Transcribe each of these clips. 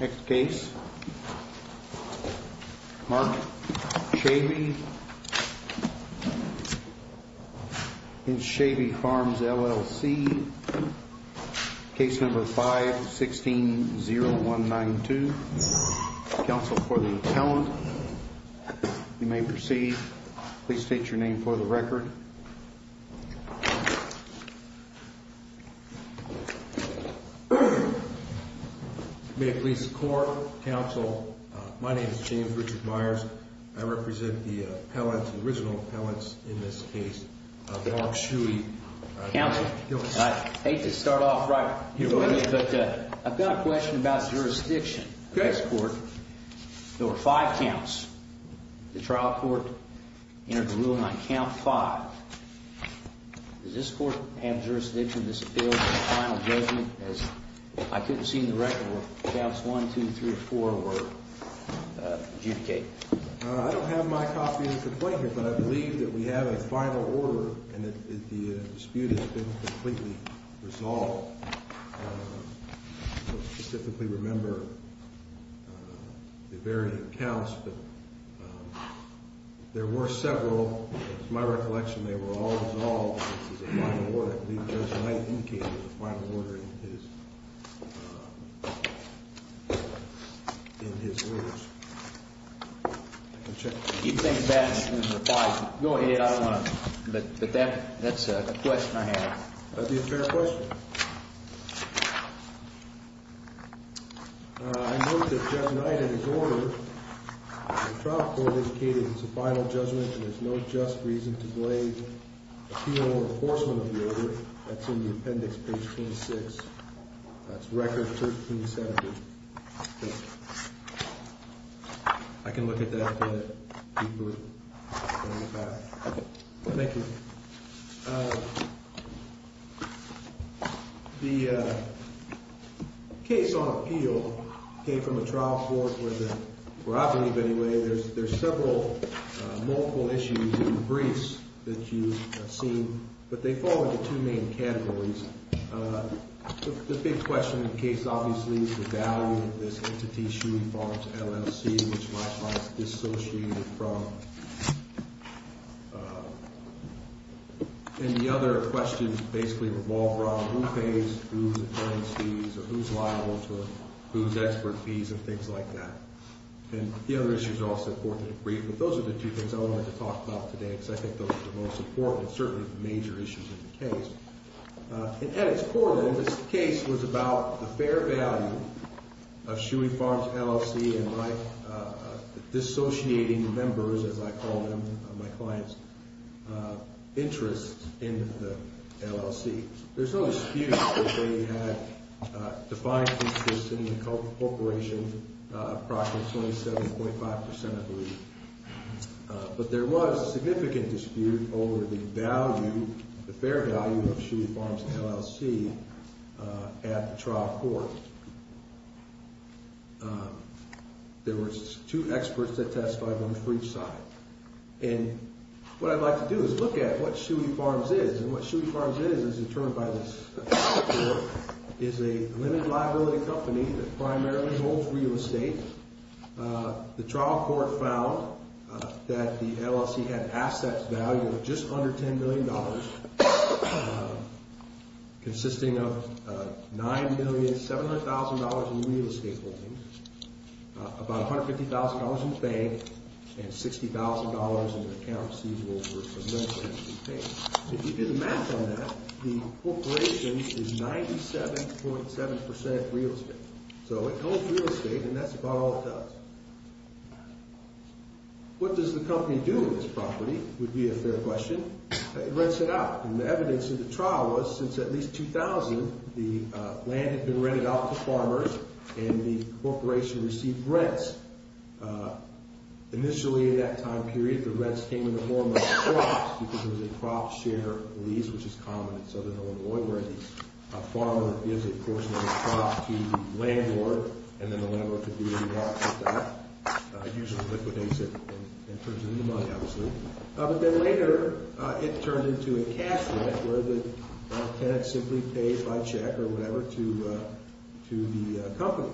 Next case, Mark Schewe v. Schewe Farms, L.L.C. Case number 5-16-0192. Counsel for the Attendant. You may proceed. Please state your name for the record. May it please the Court, Counsel, my name is James Richard Myers. I represent the appellant, the original appellant in this case, Mark Schewe. Counsel, I hate to start off right, but I've got a question about jurisdiction. Okay. There were five counts. The trial court entered the ruling on count five. Does this Court have jurisdiction in this appeal for a final judgment as I couldn't see in the record where counts one, two, three, four were adjudicated? I don't have my copy of the complaint here, but I believe that we have a final order and that the dispute has been completely resolved. I don't specifically remember the varying counts, but there were several. It's my recollection they were all resolved as a final order. I believe Judge Knight indicated the final order in his rules. If you think that's in the files, go ahead. I don't want to, but that's a question I have. That would be a fair question. I note that Judge Knight in his order, the trial court indicated it's a final judgment and there's no just reason to delay appeal or enforcement of the order. That's in the appendix, page 26. That's record 1370. I can look at that. Thank you. The case on appeal came from a trial court where I believe anyway there's several multiple issues and briefs that you've seen, but they fall into two main categories. The big question in the case obviously is the value of this entity shoeing farms LLC, which my client is dissociated from. And the other questions basically revolve around who pays, who is liable, who is expert fees and things like that. And the other issues are also important and brief, but those are the two things I wanted to talk about today because I think those are the most important and certainly the major issues in the case. At its core, this case was about the fair value of shoeing farms LLC and my dissociating members, as I call them, my client's interest in the LLC. There's no dispute that they had defined interest in the corporation approximately 27.5%, I believe. But there was a significant dispute over the value, the fair value of shoeing farms LLC at the trial court. There was two experts that testified on the brief side. And what I'd like to do is look at what shoeing farms is. And what shoeing farms is, as determined by this trial court, is a limited liability company that primarily holds real estate. The trial court found that the LLC had assets valued at just under $10 million, consisting of $9,700,000 in real estate holdings, about $150,000 in bank, and $60,000 in account receivables. If you do the math on that, the corporation is 97.7% real estate. So it holds real estate, and that's about all it does. What does the company do with this property, would be a fair question. It rents it out. And the evidence in the trial was, since at least 2000, the land had been rented out to farmers, and the corporation received rents. Initially, at that time period, the rents came in the form of crops, because there was a crop share lease, which is common in southern Illinois, where the farmer gives a portion of the crop to the landlord, and then the landlord could be involved with that. It usually liquidates it and turns it into money, obviously. But then later, it turned into a cash rent, where the tenant simply pays by check or whatever to the company.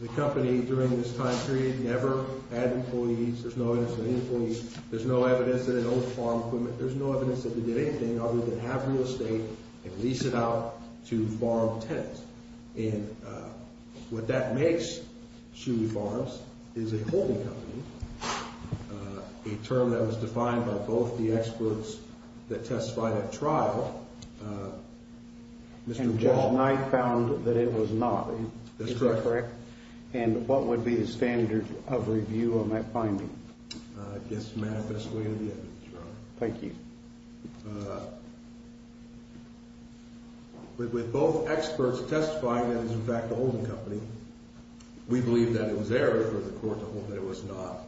The company, during this time period, never had employees. There's no evidence of any employees. There's no evidence that it owns farm equipment. There's no evidence that it did anything other than have real estate and lease it out to farm tenants. And what that makes Shoei Farms is a holding company, a term that was defined by both the experts that testified at trial, Mr. Ball. Judge Knight found that it was not. Is that correct? That's correct. And what would be the standard of review on that finding? I guess manifestly in the evidence, Your Honor. Thank you. With both experts testifying that it was in fact a holding company, we believe that it was error for the court to hold that it was not.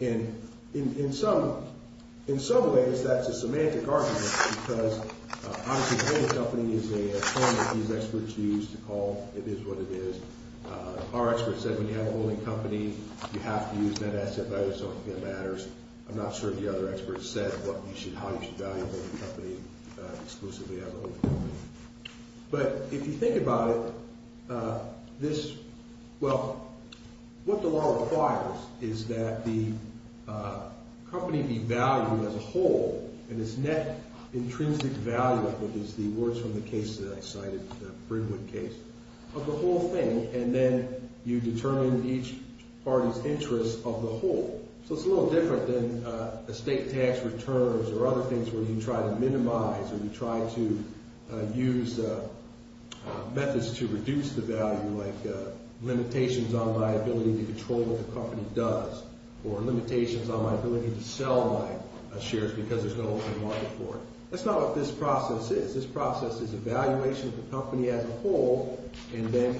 And in some ways, that's a semantic argument because, obviously, holding company is a term that these experts use to call it is what it is. Our experts said when you have a holding company, you have to use net asset value, so it matters. I'm not sure if the other experts said how you should value a holding company exclusively as a holding company. But if you think about it, this – well, what the law requires is that the company be valued as a whole and its net intrinsic value, which is the words from the case that I cited, the Brinwood case, of the whole thing. And then you determine each party's interest of the whole. So it's a little different than estate tax returns or other things where you try to minimize or you try to use methods to reduce the value, like limitations on my ability to control what the company does or limitations on my ability to sell my shares because there's no open market for it. That's not what this process is. This process is evaluation of the company as a whole and then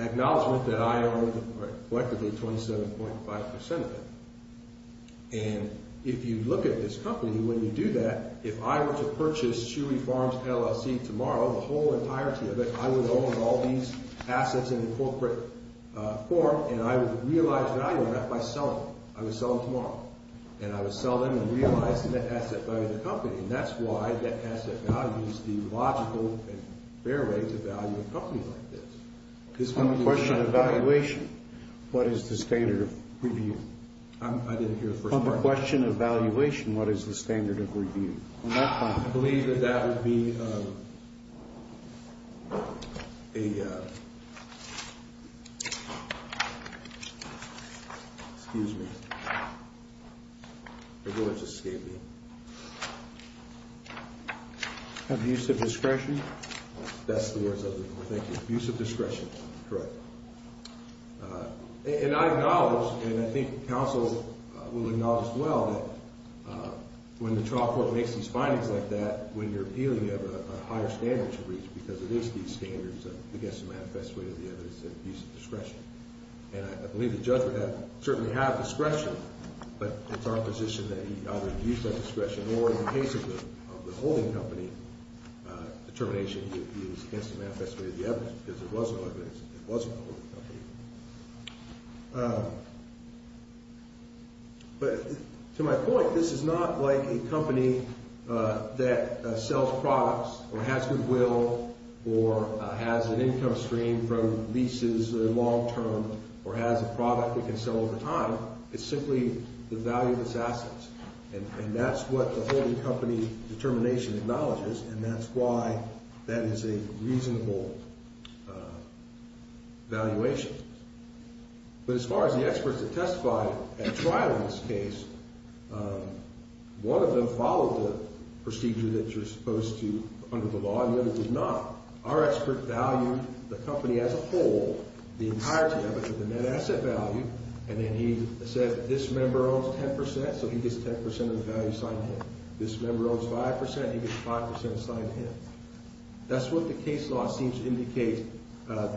an acknowledgment that I own collectively 27.5% of it. And if you look at this company, when you do that, if I were to purchase Shoei Farms LLC tomorrow, the whole entirety of it, I would own all these assets in a corporate form, and I would realize value of that by selling them. I would sell them tomorrow, and I would sell them and realize the net asset value of the company. And that's why net asset value is the logical and fair way to value a company like this. On the question of valuation, what is the standard of review? I didn't hear the first part. On the question of valuation, what is the standard of review? I believe that that would be a... Excuse me. Abuse of discretion. That's the words I was looking for. Thank you. Abuse of discretion. Correct. And I acknowledge, and I think counsel will acknowledge as well, that when the trial court makes these findings like that, when you're appealing, you have a higher standard to reach because it is these standards against the manifest way of the evidence that abuse of discretion. And I believe the judge would certainly have discretion, but it's our position that he either abused that discretion or, in the case of the holding company, determination that he was against the manifest way of the evidence because it wasn't a holding company. But to my point, this is not like a company that sells products or has goodwill or has an income stream from leases that are long term or has a product it can sell over time. It's simply the value of its assets. And that's what the holding company determination acknowledges, and that's why that is a reasonable valuation. But as far as the experts that testified at trial in this case, one of them followed the procedure that you're supposed to under the law and the other did not. Our expert valued the company as a whole, the entirety of it, the net asset value, and then he said this member owns 10 percent, so he gets 10 percent of the value assigned to him. This member owns 5 percent, he gets 5 percent assigned to him. That's what the case law seems to indicate that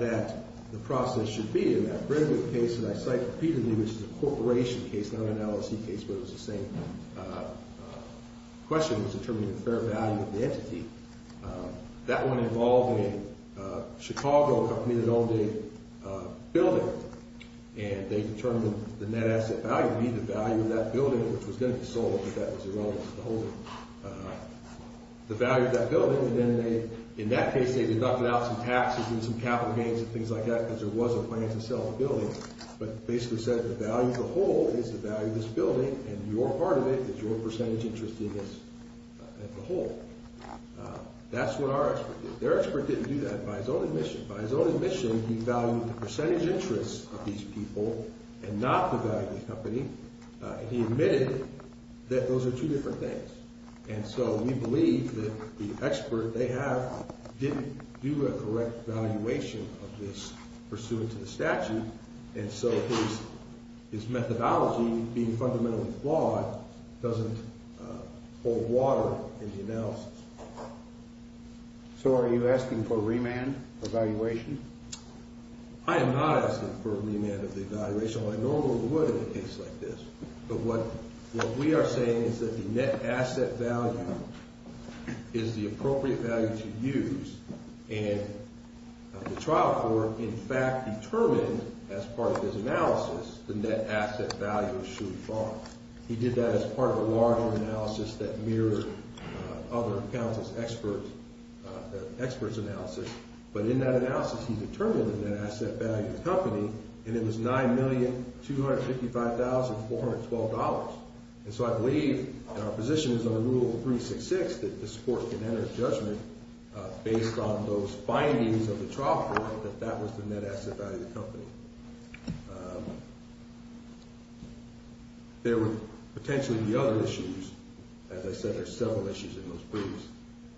the process should be. And I cite Peter Lee, which is a corporation case, not an LLC case, but it was the same question. It was determining the fair value of the entity. That one involved a Chicago company that owned a building, and they determined the net asset value would be the value of that building, which was going to be sold, but that was irrelevant to the holding. The value of that building, and then in that case they deducted out some taxes and some capital gains and things like that because there was a plan to sell the building. But basically said the value of the whole is the value of this building, and your part of it is your percentage interest in this whole. That's what our expert did. Their expert didn't do that by his own admission. By his own admission, he valued the percentage interest of these people and not the value of the company. He admitted that those are two different things, and so we believe that the expert they have didn't do a correct valuation of this pursuant to the statute, and so his methodology being fundamentally flawed doesn't hold water in the analysis. So are you asking for a remand evaluation? I am not asking for a remand of the evaluation. I normally would in a case like this, but what we are saying is that the net asset value is the appropriate value to use, and the trial court in fact determined as part of his analysis the net asset value should fall. He did that as part of a larger analysis that mirrored other accounts' experts' analysis. But in that analysis, he determined the net asset value of the company, and it was $9,255,412. And so I believe our position is under Rule 366 that the court can enter a judgment based on those findings of the trial court that that was the net asset value of the company. There would potentially be other issues. As I said, there are several issues in those briefs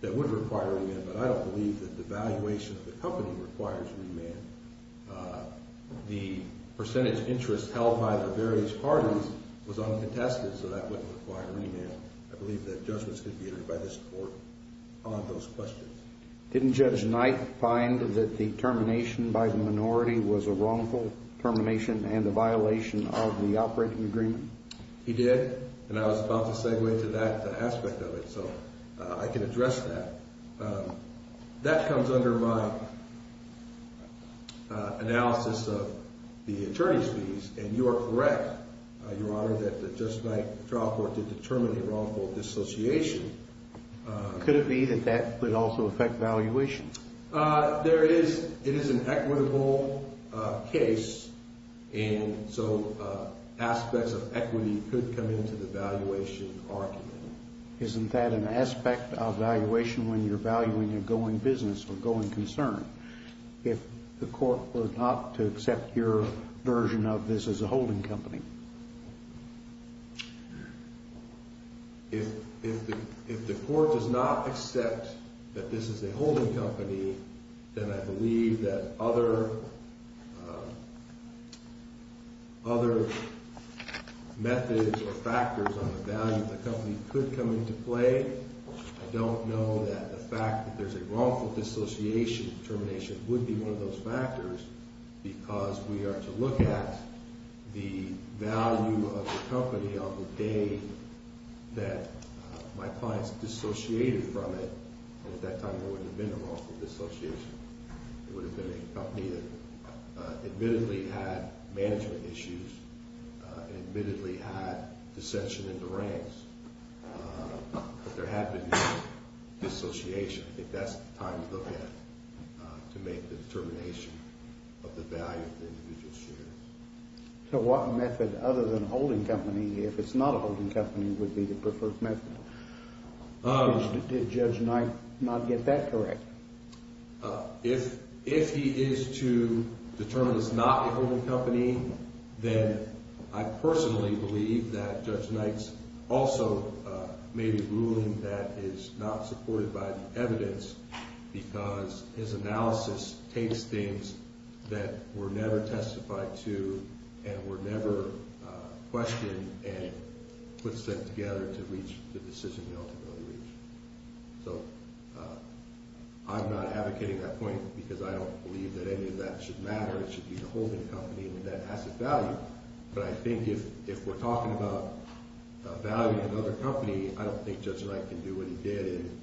that would require a remand, but I don't believe that the valuation of the company requires a remand. The percentage interest held by the various parties was uncontested, so that wouldn't require a remand. I believe that judgments could be entered by this court on those questions. Didn't Judge Knight find that the termination by the minority was a wrongful termination and a violation of the operating agreement? He did, and I was about to segue to that aspect of it, so I can address that. That comes under my analysis of the attorney's fees, and you are correct, Your Honor, that Judge Knight's trial court did determine a wrongful dissociation. Could it be that that would also affect valuation? It is an equitable case, and so aspects of equity could come into the valuation argument. Isn't that an aspect of valuation when you're valuing a going business or going concern if the court were not to accept your version of this as a holding company? If the court does not accept that this is a holding company, then I believe that other methods or factors on the value of the company could come into play. I don't know that the fact that there's a wrongful dissociation termination would be one of those factors because we are to look at the value of the company on the day that my clients dissociated from it, and at that time there wouldn't have been a wrongful dissociation. It would have been a company that admittedly had management issues, admittedly had dissension in the ranks. But there had been no dissociation. I think that's the time to look at to make the determination of the value of the individual shares. So what method other than holding company, if it's not a holding company, would be the preferred method? Did Judge Knight not get that correct? If he is to determine it's not a holding company, then I personally believe that Judge Knight's also maybe ruling that is not supported by the evidence because his analysis takes things that were never testified to and were never questioned and puts it together to reach the decision he ultimately reached. So I'm not advocating that point because I don't believe that any of that should matter. It should be the holding company with that asset value. But I think if we're talking about value in another company, I don't think Judge Knight can do what he did in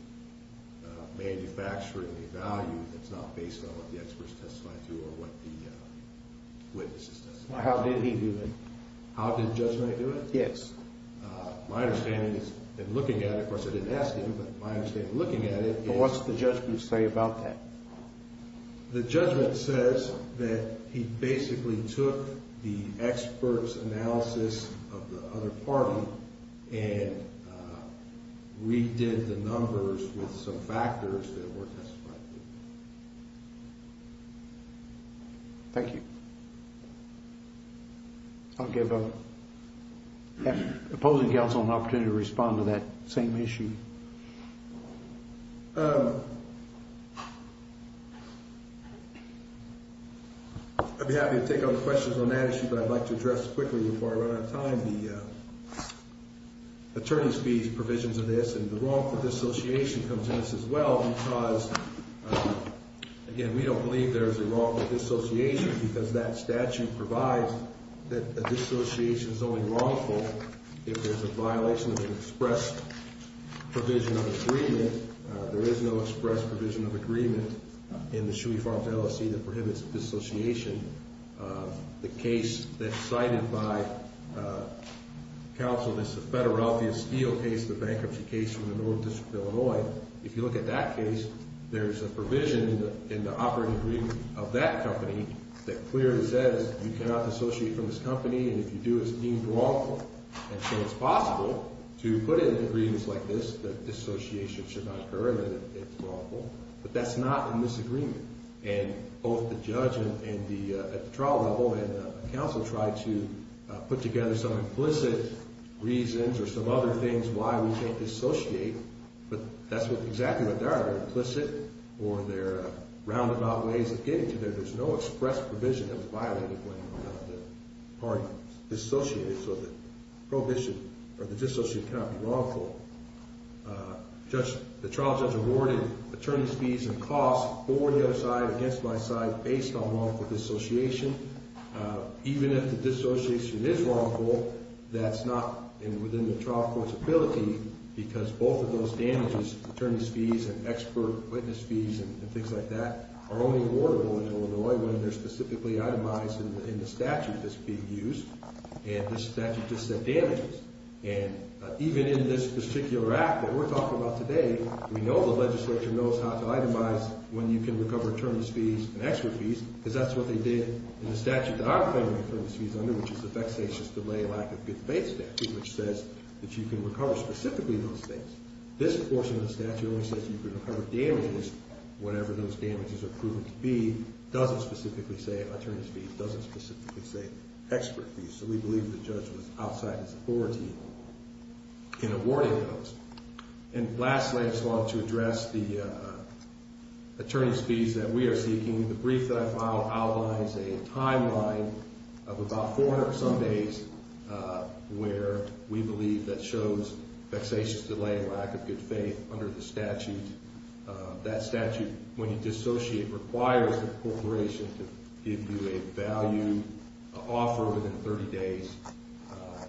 manufacturing the value that's not based on what the experts testified to or what the witnesses testified to. How did he do it? How did Judge Knight do it? Yes. My understanding is that looking at it, of course I didn't ask him, but my understanding looking at it is... What's the judgment say about that? The judgment says that he basically took the expert's analysis of the other party and redid the numbers with some factors that were testified to. Thank you. I'll give opposing counsel an opportunity to respond to that same issue. I'd be happy to take other questions on that issue, but I'd like to address quickly before I run out of time the attorney's fees provisions of this and the wrongful dissociation comes into this as well because, again, we don't believe there's a wrongful dissociation because that statute provides that a dissociation is only wrongful if there's a violation of an express provision of agreement. There is no express provision of agreement in the Shuey Farms LLC that prohibits dissociation. The case that's cited by counsel is the Federal Relfia Steel case, the bankruptcy case from the North District of Illinois. If you look at that case, there's a provision in the operating agreement of that company that clearly says you cannot dissociate from this company, and if you do, it's deemed wrongful. And so it's possible to put in agreements like this that dissociation should not occur and that it's wrongful, but that's not in this agreement. And both the judge at the trial level and counsel tried to put together some implicit reasons or some other things why we can't dissociate, but that's exactly what they are. They're implicit or they're roundabout ways of getting to there. There's no express provision that was violated when the party dissociated, so the prohibition or the dissociation cannot be wrongful. The trial judge awarded attorney's fees and costs for the other side against my side based on wrongful dissociation. Even if the dissociation is wrongful, that's not within the trial court's ability because both of those damages, attorney's fees and expert witness fees and things like that, are only awardable in Illinois when they're specifically itemized in the statute that's being used, and this statute just said damages. And even in this particular act that we're talking about today, we know the legislature knows how to itemize when you can recover attorney's fees and expert fees because that's what they did in the statute that I'm claiming attorney's fees under, which is the vexatious delay lack of good faith statute, which says that you can recover specifically those things. This portion of the statute only says you can recover damages whenever those damages are proven to be. It doesn't specifically say attorney's fees. It doesn't specifically say expert fees, so we believe the judge was outside his authority in awarding those. And lastly, I just wanted to address the attorney's fees that we are seeking. The brief that I filed outlines a timeline of about 400 or so days where we believe that shows vexatious delay and lack of good faith under the statute. That statute, when you dissociate, requires the corporation to give you a value offer within 30 days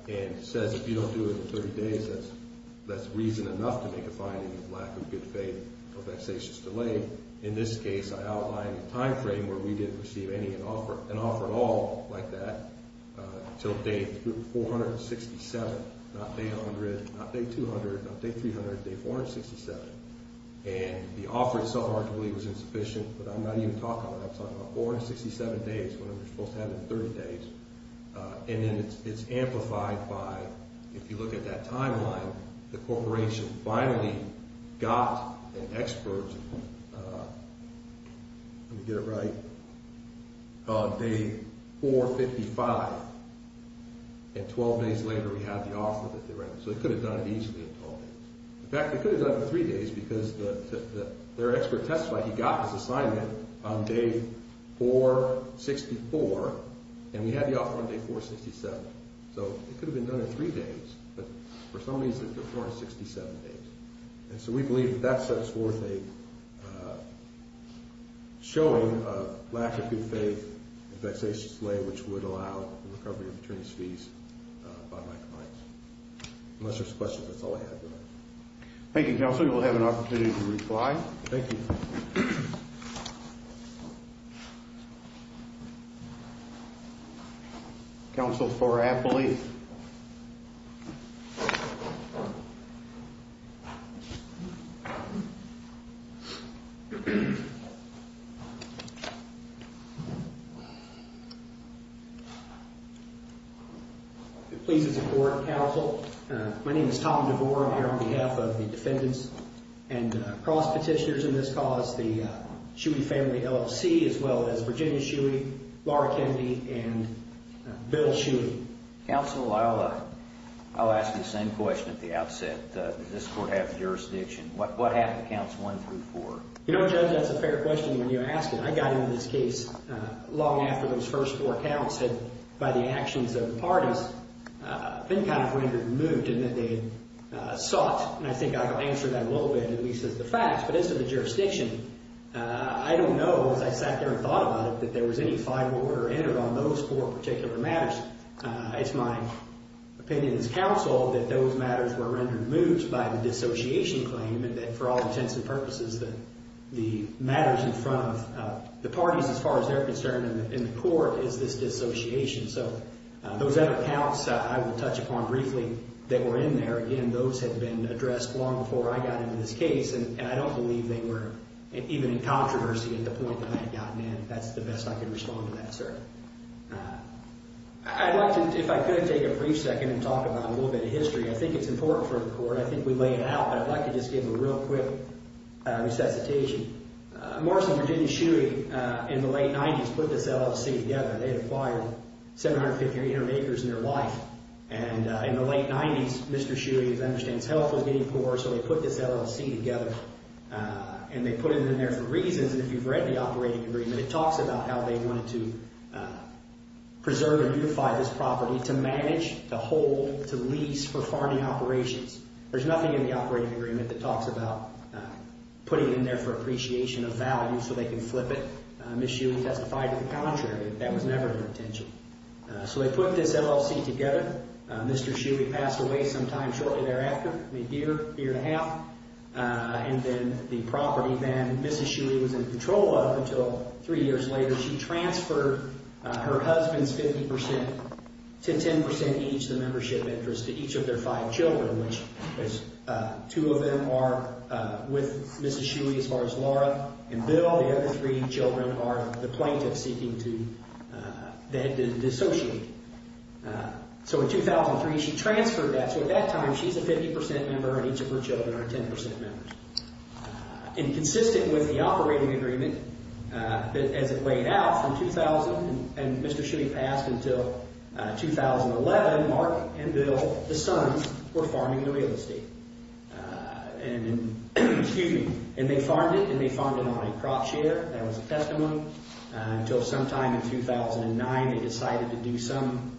and says if you don't do it in 30 days, that's reason enough to make a finding of lack of good faith or vexatious delay. In this case, I outlined a timeframe where we didn't receive any offer, an offer at all like that, until day 467, not day 100, not day 200, not day 300, day 467. And the offer itself arguably was insufficient, but I'm not even talking about that. I'm talking about 467 days when we're supposed to have it in 30 days. And then it's amplified by, if you look at that timeline, the corporation finally got an expert. Let me get it right. On day 455, and 12 days later we have the offer that they're writing. So they could have done it easily in 12 days. In fact, they could have done it in 3 days because their expert testified he got his assignment on day 464, and we had the offer on day 467. So it could have been done in 3 days, but for some reason it was 467 days. And so we believe that that sets forth a showing of lack of good faith and vexatious delay, which would allow the recovery of attorney's fees by my clients. Unless there's questions, that's all I have for now. Thank you, Counsel. You will have an opportunity to reply. Thank you. Counsel for Appley. Thank you. It pleases the Court, Counsel. My name is Tom DeVore. I'm here on behalf of the defendants and cross petitioners in this cause, the Shuey Family LLC, as well as Virginia Shuey, Laura Kennedy, and Bill Shuey. Counsel, I'll ask you the same question at the outset. Does this Court have jurisdiction? What happened to counts 1 through 4? You know, Judge, that's a fair question when you ask it. I got into this case long after those first four counts had, by the actions of the parties, been kind of rendered moot in that they sought, and I think I can answer that a little bit, at least as the facts. But as to the jurisdiction, I don't know, as I sat there and thought about it, that there was any fight or order entered on those four particular matters. It's my opinion as Counsel that those matters were rendered moot by the dissociation claim and that for all intents and purposes, the matters in front of the parties, as far as they're concerned, in the Court is this dissociation. So those other counts I will touch upon briefly that were in there, again, those had been addressed long before I got into this case, and I don't believe they were even in controversy at the point that I had gotten in. That's the best I can respond to that, sir. I'd like to, if I could, take a brief second and talk about a little bit of history. I think it's important for the Court. I think we lay it out, but I'd like to just give a real quick resuscitation. Morrison, Virginia, Shuey, in the late 90s, put this LLC together. They had acquired 750 or 800 acres in their life. And in the late 90s, Mr. Shuey, as I understand, his health was getting poor, so they put this LLC together, and they put it in there for reasons. And if you've read the operating agreement, it talks about how they wanted to preserve and unify this property to manage, to hold, to lease for farming operations. There's nothing in the operating agreement that talks about putting it in there for appreciation of value so they can flip it. Ms. Shuey testified to the contrary. That was never her intention. So they put this LLC together. Mr. Shuey passed away sometime shortly thereafter. A year, year and a half. And then the property then, Ms. Shuey was in control of until three years later. She transferred her husband's 50% to 10% each, the membership interest, to each of their five children, which two of them are with Ms. Shuey as far as Laura and Bill. The other three children are the plaintiffs seeking to dissociate. So in 2003, she transferred that. So at that time, she's a 50% member, and each of her children are a 10% member. And consistent with the operating agreement, as it weighed out from 2000, and Mr. Shuey passed until 2011, Mark and Bill, the sons, were farming the real estate. And they farmed it, and they farmed it on a crop share. That was a testimony. Until sometime in 2009, they decided to do some,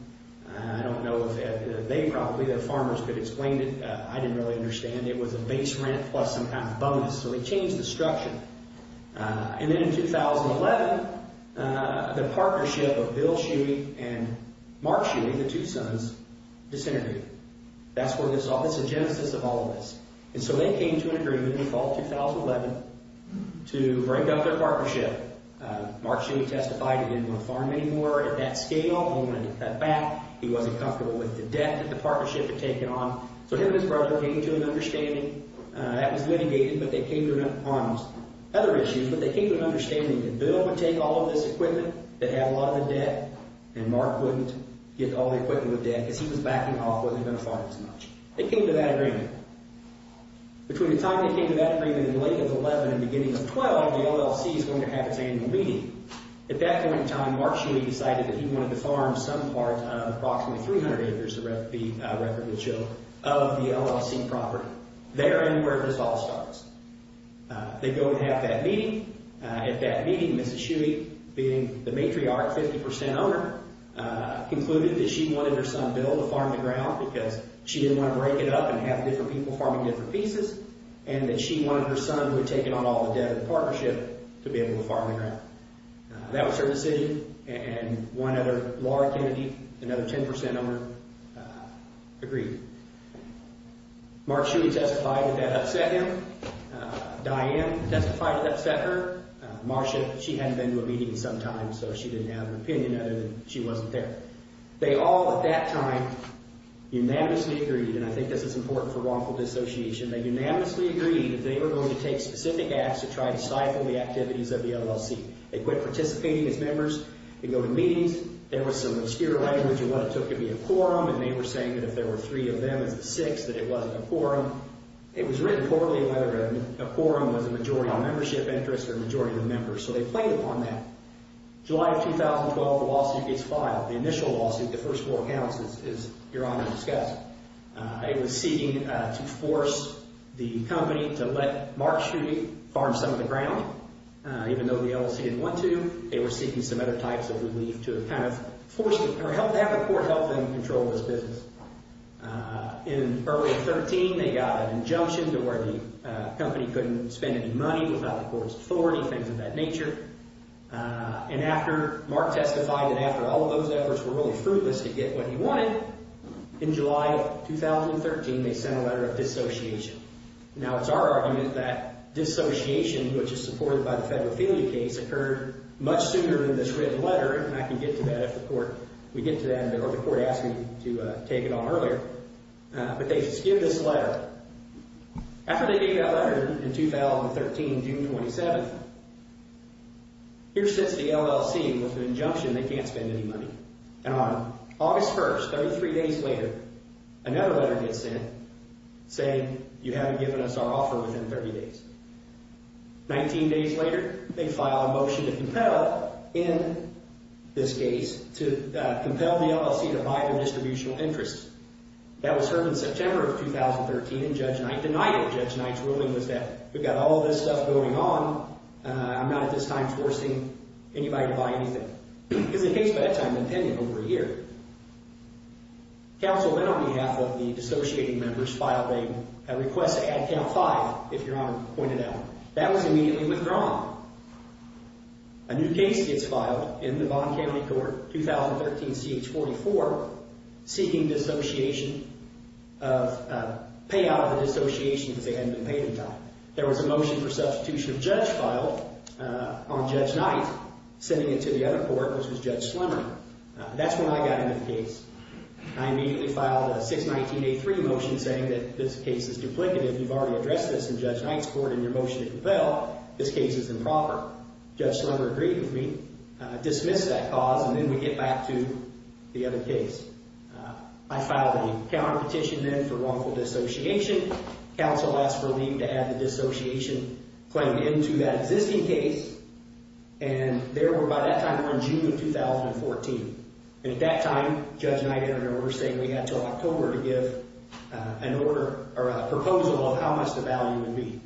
I don't know if they probably, their farmers could explain it. I didn't really understand. It was a base rent plus some kind of bonus. So they changed the structure. And then in 2011, the partnership of Bill Shuey and Mark Shuey, the two sons, disintegrated. That's where this all, this is the genesis of all of this. And so they came to an agreement in the fall of 2011 to break up their partnership. Mark Shuey testified he didn't want to farm anymore. At that scale, he wanted to cut back. He wasn't comfortable with the debt that the partnership had taken on. So him and his brother came to an understanding. That was litigated, but they came to an understanding. Bill would take all of this equipment that had a lot of the debt, and Mark wouldn't get all the equipment with debt because he was backing off, wasn't going to farm as much. They came to that agreement. Between the time they came to that agreement in late 2011 and beginning of 2012, the LLC is going to have its annual meeting. At that point in time, Mark Shuey decided that he wanted to farm some part of approximately 300 acres, the record would show, of the LLC property there and where this all starts. They go and have that meeting. At that meeting, Mrs. Shuey, being the matriarch, 50% owner, concluded that she wanted her son Bill to farm the ground because she didn't want to break it up and have different people farming different pieces, and that she wanted her son, who had taken on all the debt of the partnership, to be able to farm the ground. That was her decision, and one other, Laura Kennedy, another 10% owner, agreed. Mark Shuey testified that that upset him. Diane testified it upset her. Marsha, she hadn't been to a meeting in some time, so she didn't have an opinion other than she wasn't there. They all, at that time, unanimously agreed, and I think this is important for wrongful dissociation, they unanimously agreed that they were going to take specific acts to try to stifle the activities of the LLC. They quit participating as members. They go to meetings. There was some obscure language of what it took to be a quorum, and they were saying that if there were three of them, it's six, that it wasn't a quorum. It was written poorly whether a quorum was a majority of membership interest or a majority of members, so they played upon that. July of 2012, the lawsuit gets filed. The initial lawsuit, the first four counts, as Your Honor discussed, it was seeking to force the company to let Mark Shuey farm some of the ground. Even though the LLC didn't want to, they were seeking some other types of relief to kind of force them or have the court help them control this business. In early 2013, they got an injunction to where the company couldn't spend any money without the court's authority, things of that nature. And after Mark testified and after all of those efforts were really fruitless to get what he wanted, in July of 2013, they sent a letter of dissociation. Now, it's our argument that dissociation, which is supported by the federal failure case, occurred much sooner in this written letter, and I can get to that if the court, we get to that, or the court asked me to take it on earlier. But they just give this letter. After they gave that letter in 2013, June 27th, here sits the LLC with an injunction they can't spend any money. And on August 1st, 33 days later, another letter gets sent saying, you haven't given us our offer within 30 days. 19 days later, they file a motion to compel, in this case, to compel the LLC to buy their distributional interests. That was heard in September of 2013, and Judge Knight denied it. Judge Knight's ruling was that we've got all this stuff going on, I'm not at this time forcing anybody to buy anything. Because it takes bedtime to attend it over a year. Counsel then, on behalf of the dissociating members, filed a request to add count five, if Your Honor pointed out. That was immediately withdrawn. A new case gets filed in the Bond County Court, 2013 CH44, seeking payout of the dissociation because they hadn't been paid in time. There was a motion for substitution of Judge filed on Judge Knight, sending it to the other court, which was Judge Slemmer. That's when I got into the case. I immediately filed a 619A3 motion saying that this case is duplicative. You've already addressed this in Judge Knight's court in your motion to compel. This case is improper. Judge Slemmer agreed with me, dismissed that cause, and then we get back to the other case. I filed a counterpetition then for wrongful dissociation. Counsel asked for leave to add the dissociation claim into that existing case. By that time, we're in June of 2014. At that time, Judge Knight entered an order saying we had until October to give a proposal of how much the value would be.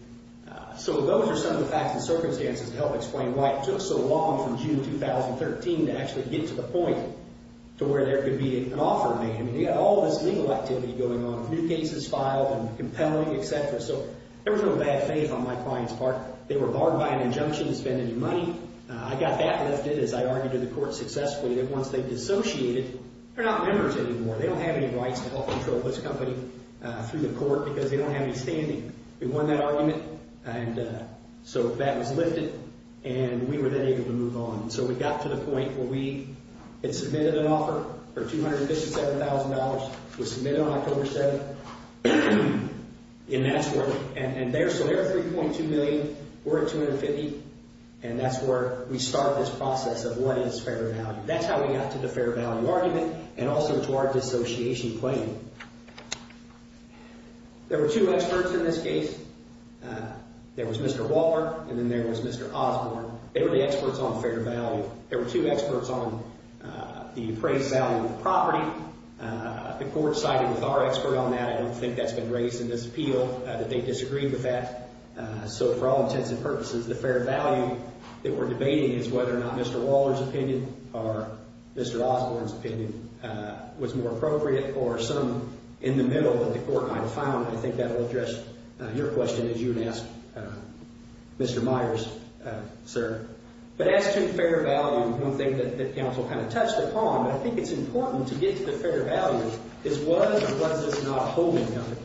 Those are some of the facts and circumstances to help explain why it took so long from June 2013 to actually get to the point to where there could be an offer made. They had all this legal activity going on, new cases filed and compelling, etc. There was no bad faith on my client's part. They were barred by an injunction to spend any money. I got that lifted as I argued to the court successfully that once they dissociated, they're not members anymore. They don't have any rights to help control this company through the court because they don't have any standing. We won that argument, and so that was lifted, and we were then able to move on. So we got to the point where we had submitted an offer for $257,000. It was submitted on October 7th in that court, and so they're $3.2 million, we're at $250,000, and that's where we start this process of what is fair value. That's how we got to the fair value argument and also to our dissociation claim. There were two experts in this case. There was Mr. Walpert, and then there was Mr. Osborne. They were the experts on fair value. There were two experts on the appraised value of the property. The court sided with our expert on that. I don't think that's been raised in this appeal, that they disagreed with that. So for all intents and purposes, the fair value that we're debating is whether or not Mr. Waller's opinion or Mr. Osborne's opinion was more appropriate or some in the middle that the court might have found. I think that will address your question as you would ask Mr. Myers, sir. But as to fair value, one thing that counsel kind of touched upon, but I think it's important to get to the fair value, is was or was this not a holding company?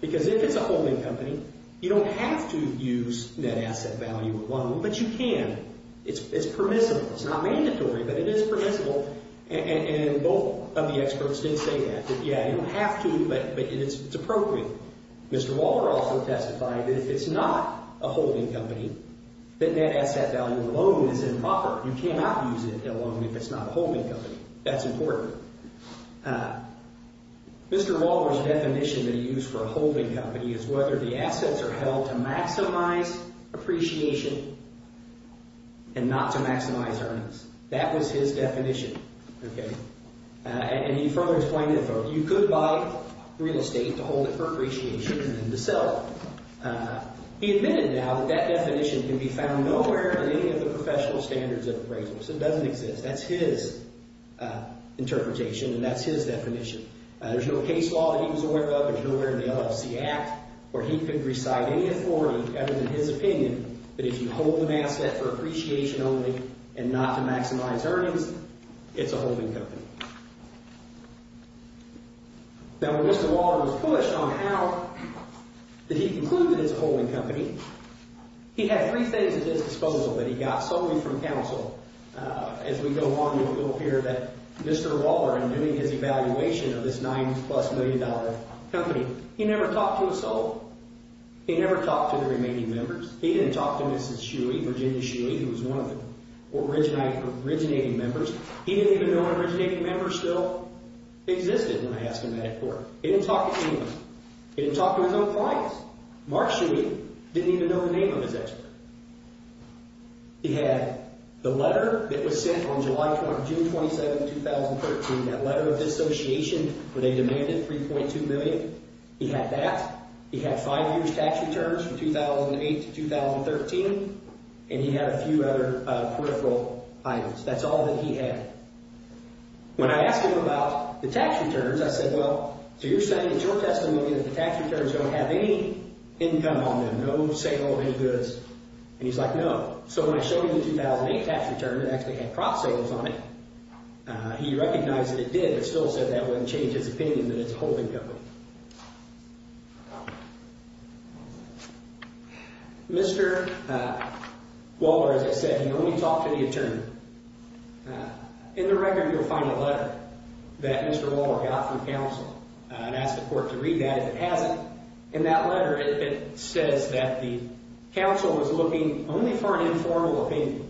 Because if it's a holding company, you don't have to use net asset value alone, but you can. It's permissible. It's not mandatory, but it is permissible, and both of the experts did say that, that, yeah, you don't have to, but it's appropriate. Mr. Waller also testified that if it's not a holding company, that net asset value alone is improper. You cannot use it alone if it's not a holding company. That's important. Mr. Waller's definition that he used for a holding company is whether the assets are held to maximize appreciation and not to maximize earnings. That was his definition, okay? And he further explained it, though. You could buy real estate to hold it for appreciation and then to sell it. He admitted now that that definition can be found nowhere in any of the professional standards of appraisals. It doesn't exist. That's his interpretation, and that's his definition. There's no case law that he was aware of. There's nowhere in the LFC Act where he could recite any authority other than his opinion that if you hold an asset for appreciation only and not to maximize earnings, it's a holding company. Now, when Mr. Waller was pushed on how did he conclude that it's a holding company, he had three things at his disposal that he got solely from counsel. As we go along, it will appear that Mr. Waller, in doing his evaluation of this nine-plus-million-dollar company, he never talked to his soul. He never talked to the remaining members. He didn't talk to Mrs. Shuey, Virginia Shuey, who was one of the originating members. He didn't even know an originating member still existed when I asked him that at court. He didn't talk to anyone. He didn't talk to his own clients. Mark Shuey didn't even know the name of his ex-wife. He had the letter that was sent on June 27, 2013, that letter of dissociation where they demanded $3.2 million. He had that. He had five years' tax returns from 2008 to 2013, and he had a few other peripheral items. That's all that he had. When I asked him about the tax returns, I said, well, so you're saying it's your testimony that the tax returns don't have any income on them, no sale of any goods, and he's like, no. So when I showed him the 2008 tax return, it actually had crop sales on it, he recognized that it did, but still said that wouldn't change his opinion that it's a holding company. Mr. Waller, as I said, he only talked to the attorney. In the record, you'll find a letter that Mr. Waller got from counsel and asked the court to read that. It hasn't. In that letter, it says that the counsel was looking only for an informal opinion.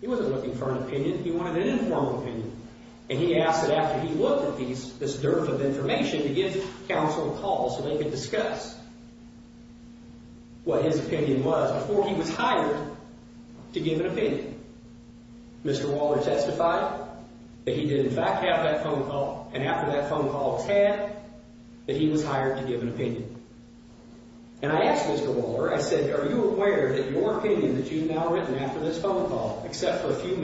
He wasn't looking for an opinion. He wanted an informal opinion. And he asked that after he looked at this dearth of information to give counsel a call so they could discuss what his opinion was before he was hired to give an opinion. Mr. Waller testified that he did, in fact, have that phone call, and after that phone call was had, that he was hired to give an opinion. And I asked Mr. Waller, I said, are you aware that your opinion that you've now written after this phone call, except for a few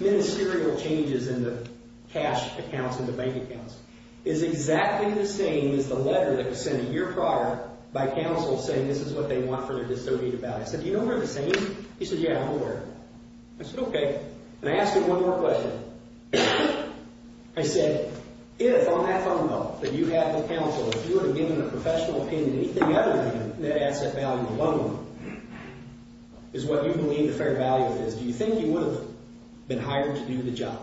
ministerial changes in the cash accounts and the bank accounts, is exactly the same as the letter that was sent a year prior by counsel saying this is what they want for their dissociative values? I said, do you know they're the same? He said, yeah, I'm aware. I said, okay. And I asked him one more question. I said, if on that phone call that you had with counsel, if you were to give him a professional opinion, anything other than that asset value alone is what you believe the fair value of is, do you think he would have been hired to do the job?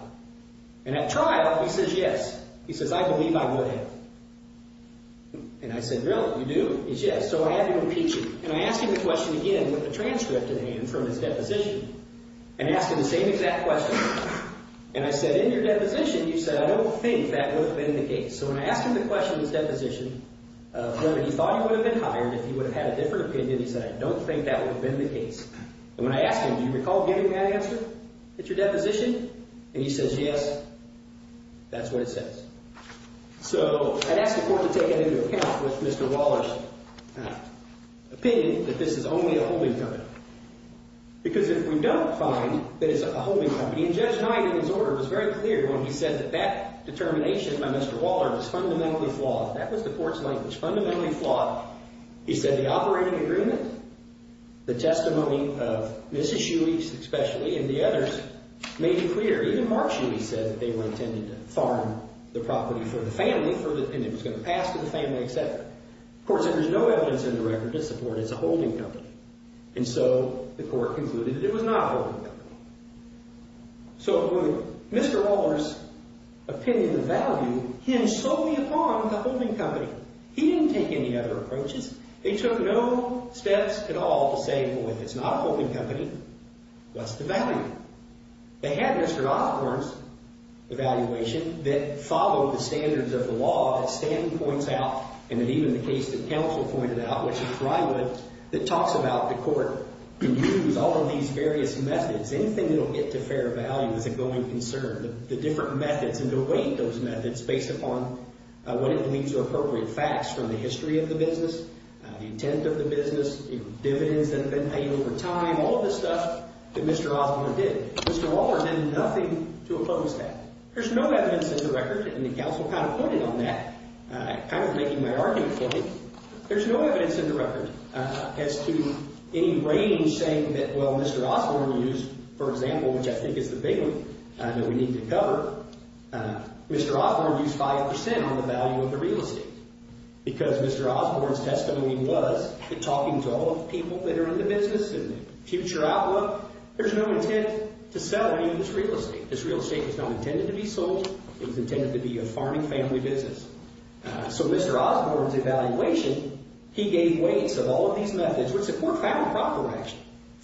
And at trial, he says yes. He says, I believe I would have. And I said, really, you do? He says, yes. So I had to impeach him. And I asked him the question again with a transcript in hand from his deposition, and asked him the same exact question. And I said, in your deposition, you said, I don't think that would have been the case. So when I asked him the question in his deposition of whether he thought he would have been hired, if he would have had a different opinion, he said, I don't think that would have been the case. And when I asked him, do you recall giving that answer at your deposition? And he says, yes, that's what it says. So I'd ask the court to take that into account with Mr. Waller's opinion that this is only a holding company. Because if we don't find that it's a holding company, and Judge Knight, in his order, was very clear when he said that that determination by Mr. Waller was fundamentally flawed. That was the court's language, fundamentally flawed. He said the operating agreement, the testimony of Mrs. Shuey, especially, and the others made it clear. Even Mark Shuey said that they were intended to farm the property for the family, and it was going to pass to the family, et cetera. The court said there's no evidence in the record to support it's a holding company. And so the court concluded that it was not a holding company. So Mr. Waller's opinion of value hinged solely upon the holding company. He didn't take any other approaches. They took no steps at all to say, well, if it's not a holding company, what's the value? They had Mr. Osborne's evaluation that followed the standards of the law, that Stanley points out, and that even the case that counsel pointed out, which is Ryewood's, that talks about the court can use all of these various methods. Anything that will get to fair value is a going concern. The different methods and to weight those methods based upon what it believes are appropriate facts from the history of the business, the intent of the business, dividends that have been paid over time, all of the stuff that Mr. Osborne did. Mr. Waller had nothing to oppose that. There's no evidence in the record, and the counsel kind of pointed on that, kind of making my argument for it. There's no evidence in the record as to any range saying that, well, Mr. Osborne used, for example, which I think is the big one that we need to cover, Mr. Osborne used 5% on the value of the real estate because Mr. Osborne's testimony was that talking to all of the people that are in the business and future outlook, there's no intent to sell any of this real estate. This real estate is not intended to be sold. It was intended to be a farming family business. So Mr. Osborne's evaluation, he gave weights of all of these methods which support family property rights.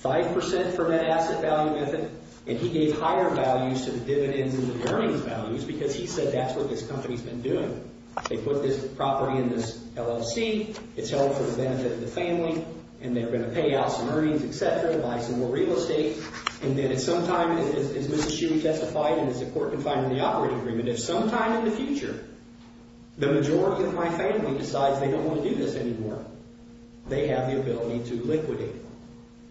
5% for that asset value method, and he gave higher values to the dividends and the earnings values because he said that's what this company's been doing. They put this property in this LLC. It's held for the benefit of the family, and they're going to pay out some earnings, et cetera, buy some more real estate, and then at some time, as Mr. Shue testified, and it's important to find in the operating agreement, if sometime in the future the majority of my family decides they don't want to do this anymore, they have the ability to liquidate it.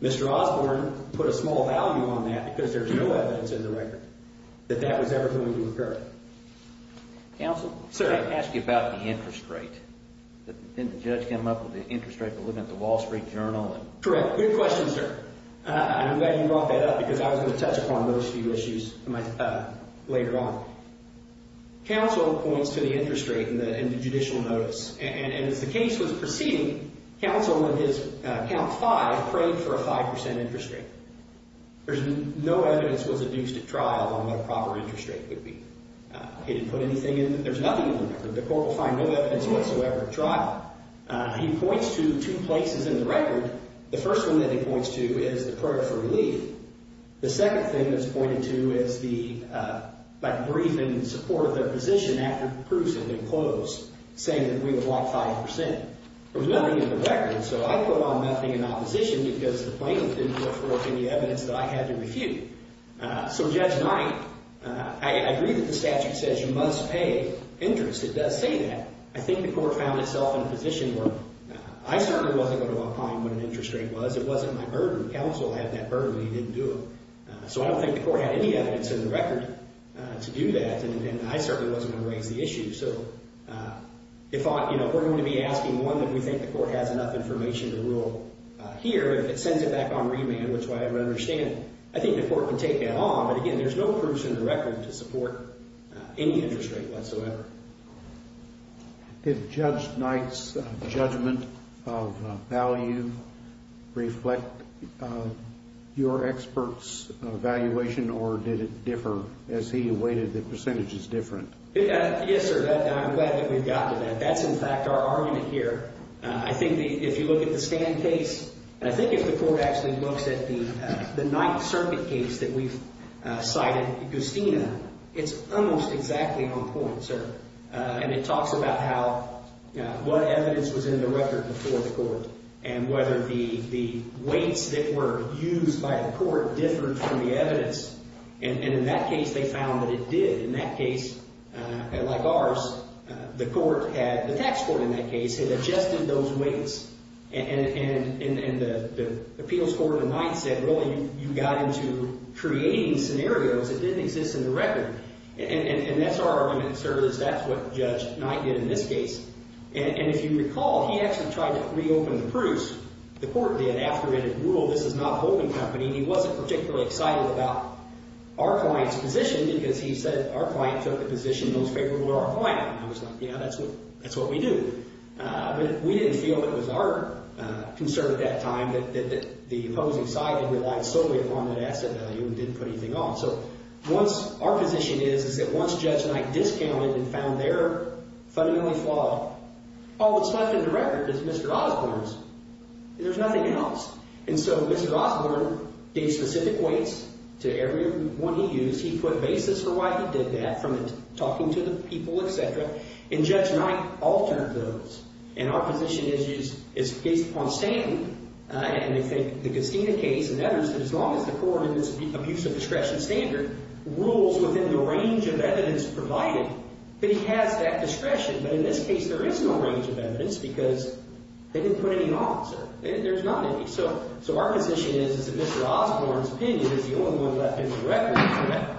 Mr. Osborne put a small value on that because there's no evidence in the record that that was ever going to occur. Counsel? Sir? Can I ask you about the interest rate? Didn't the judge come up with the interest rate by looking at the Wall Street Journal? Correct. Good question, sir. I'm glad you brought that up because I was going to touch upon those few issues later on. Counsel points to the interest rate in the judicial notice, and as the case was proceeding, counsel on his count five prayed for a 5% interest rate. There's no evidence was adduced at trial on what a proper interest rate would be. He didn't put anything in. There's nothing in the record. The court will find no evidence whatsoever at trial. He points to two places in the record. The first one that he points to is the prayer for relief. The second thing that's pointed to is the, like, briefing and support of their position after the proofs had been closed, saying that we would walk 5%. There was nothing in the record, so I put on nothing in opposition because the plaintiff didn't look for any evidence that I had to refute. So Judge Knight, I agree that the statute says you must pay interest. It does say that. I think the court found itself in a position where I certainly wasn't going to walk high on what an interest rate was. It wasn't my burden. Counsel had that burden. He didn't do it. So I don't think the court had any evidence in the record to do that, and I certainly wasn't going to raise the issue. So if we're going to be asking one that we think the court has enough information to rule here, if it sends it back on remand, which I understand, I think the court can take that on. But, again, there's no proofs in the record to support any interest rate whatsoever. If Judge Knight's judgment of value reflect your expert's evaluation, or did it differ as he weighted the percentages different? Yes, sir. I'm glad that we've gotten to that. That's, in fact, our argument here. I think if you look at the Stan case, and I think if the court actually looks at the Knight Circuit case that we've cited, it's almost exactly on point, sir. And it talks about what evidence was in the record before the court and whether the weights that were used by the court differed from the evidence. And in that case, they found that it did. In that case, like ours, the court had, the tax court in that case, had adjusted those weights. And the appeals court in Knight said, really, you got into creating scenarios that didn't exist in the record. And that's our argument, sir, is that's what Judge Knight did in this case. And if you recall, he actually tried to reopen the proofs. The court did after it had ruled this is not holding company. He wasn't particularly excited about our client's position because he said our client took the position most favorable to our client. And I was like, yeah, that's what we do. But we didn't feel it was our concern at that time that the opposing side had relied solely upon that asset value and didn't put anything on. So our position is that once Judge Knight discounted and found their fundamentally flawed, all that's left in the record is Mr. Osborne's. There's nothing else. And so Mr. Osborne gave specific weights to every one he used. He put a basis for why he did that from talking to the people, et cetera. And Judge Knight altered those. And our position is it's based upon standard. And the Castina case and others, as long as the court in its abuse of discretion standard rules within the range of evidence provided, then he has that discretion. But in this case, there is no range of evidence because they didn't put any on, sir. There's not any. So our position is that Mr. Osborne's opinion is the only one left in the record.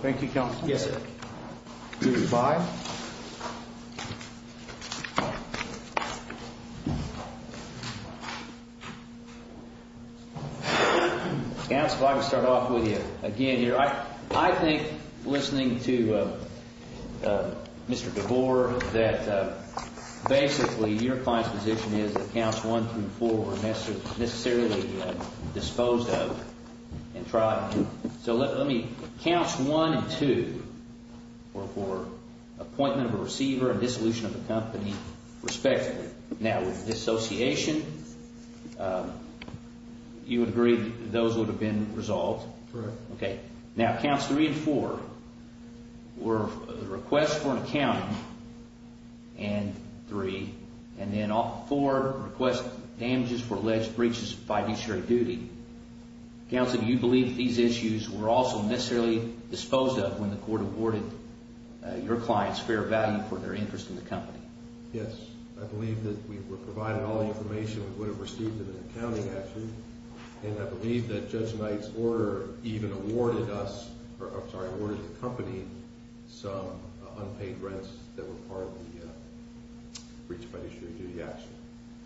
Thank you, counsel. Yes, sir. Five. Counsel, I'm going to start off with you. Again, I think listening to Mr. DeBoer, that basically your client's position is that counts one through four were necessarily disposed of and tried. So let me, counts one and two were for appointment of a receiver and dissolution of the company, respectively. Now, with dissociation, you would agree that those would have been resolved? Correct. Okay. Now, counts three and four were requests for an accounting and three. And then all four request damages for alleged breaches of fiduciary duty. Counsel, do you believe these issues were also necessarily disposed of when the court awarded your client's fair value for their interest in the company? Yes. I believe that we were provided all the information we would have received in an accounting action. And I believe that Judge Knight's order even awarded us, or I'm sorry, awarded the company some unpaid rents that were part of the breach of fiduciary duty action.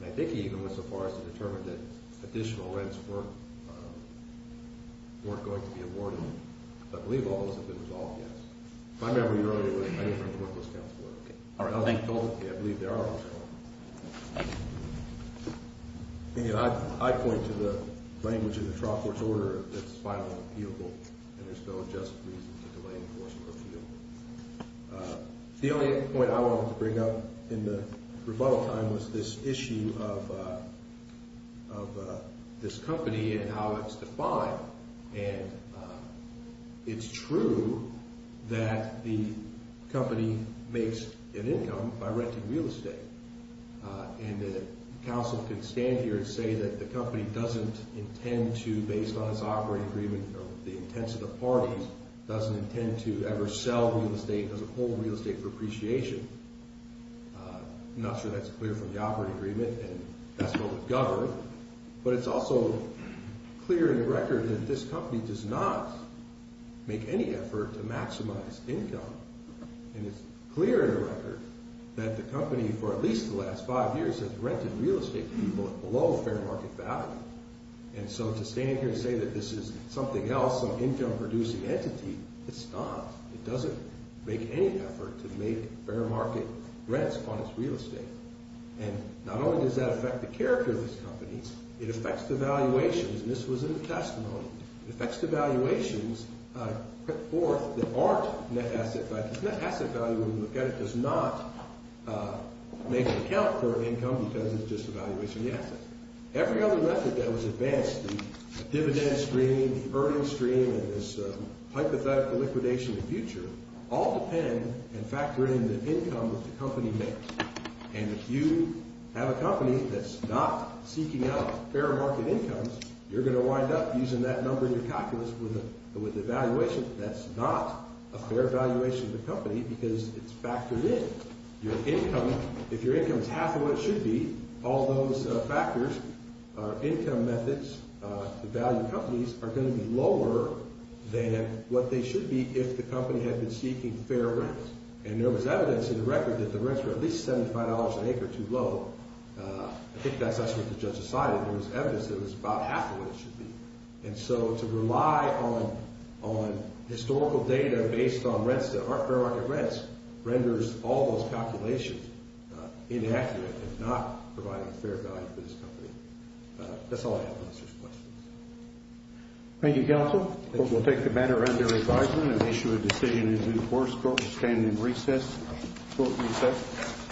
And I think he even went so far as to determine that additional rents weren't going to be awarded. But I believe all those have been resolved, yes. If I remember you earlier, I didn't bring the work list down for you. All right. I believe there are those. I point to the language in the trough court's order that's final and appealable, and there's no just reason to delay enforcement or appeal. The only point I wanted to bring up in the rebuttal time was this issue of this company and how it's defined. And it's true that the company makes an income by renting real estate. And the counsel can stand here and say that the company doesn't intend to, based on its operating agreement or the intents of the parties, doesn't intend to ever sell real estate, does a whole real estate for appreciation. I'm not sure that's clear from the operating agreement, and that's what would govern. But it's also clear in the record that this company does not make any effort to maximize income. And it's clear in the record that the company, for at least the last five years, has rented real estate to people below fair market value. And so to stand here and say that this is something else, some income-producing entity, it's not. It doesn't make any effort to make fair market rents on its real estate. And not only does that affect the character of this company, it affects the valuations, and this was in the testimony. It affects the valuations put forth that aren't net asset value. Net asset value, when you look at it, does not make an account for income because it's just a valuation of the assets. Every other method that was advanced, the dividend stream, the earning stream, and this hypothetical liquidation in the future, all depend and factor in the income that the company makes. And if you have a company that's not seeking out fair market incomes, you're going to wind up using that number in your calculus with a valuation that's not a fair valuation of the company because it's factored in. Your income, if your income is half of what it should be, all those factors, income methods, the value of companies, are going to be lower than what they should be if the company had been seeking fair rents. And there was evidence in the record that the rents were at least $75 an acre, too low. I think that's what the judge decided. There was evidence that it was about half of what it should be. And so to rely on historical data based on rents, fair market rents, renders all those calculations inaccurate and not providing a fair value for this company. That's all I have on such questions. Thank you, counsel. We'll take the matter under revision and issue a decision in due course. Court is standing in recess. Court recessed.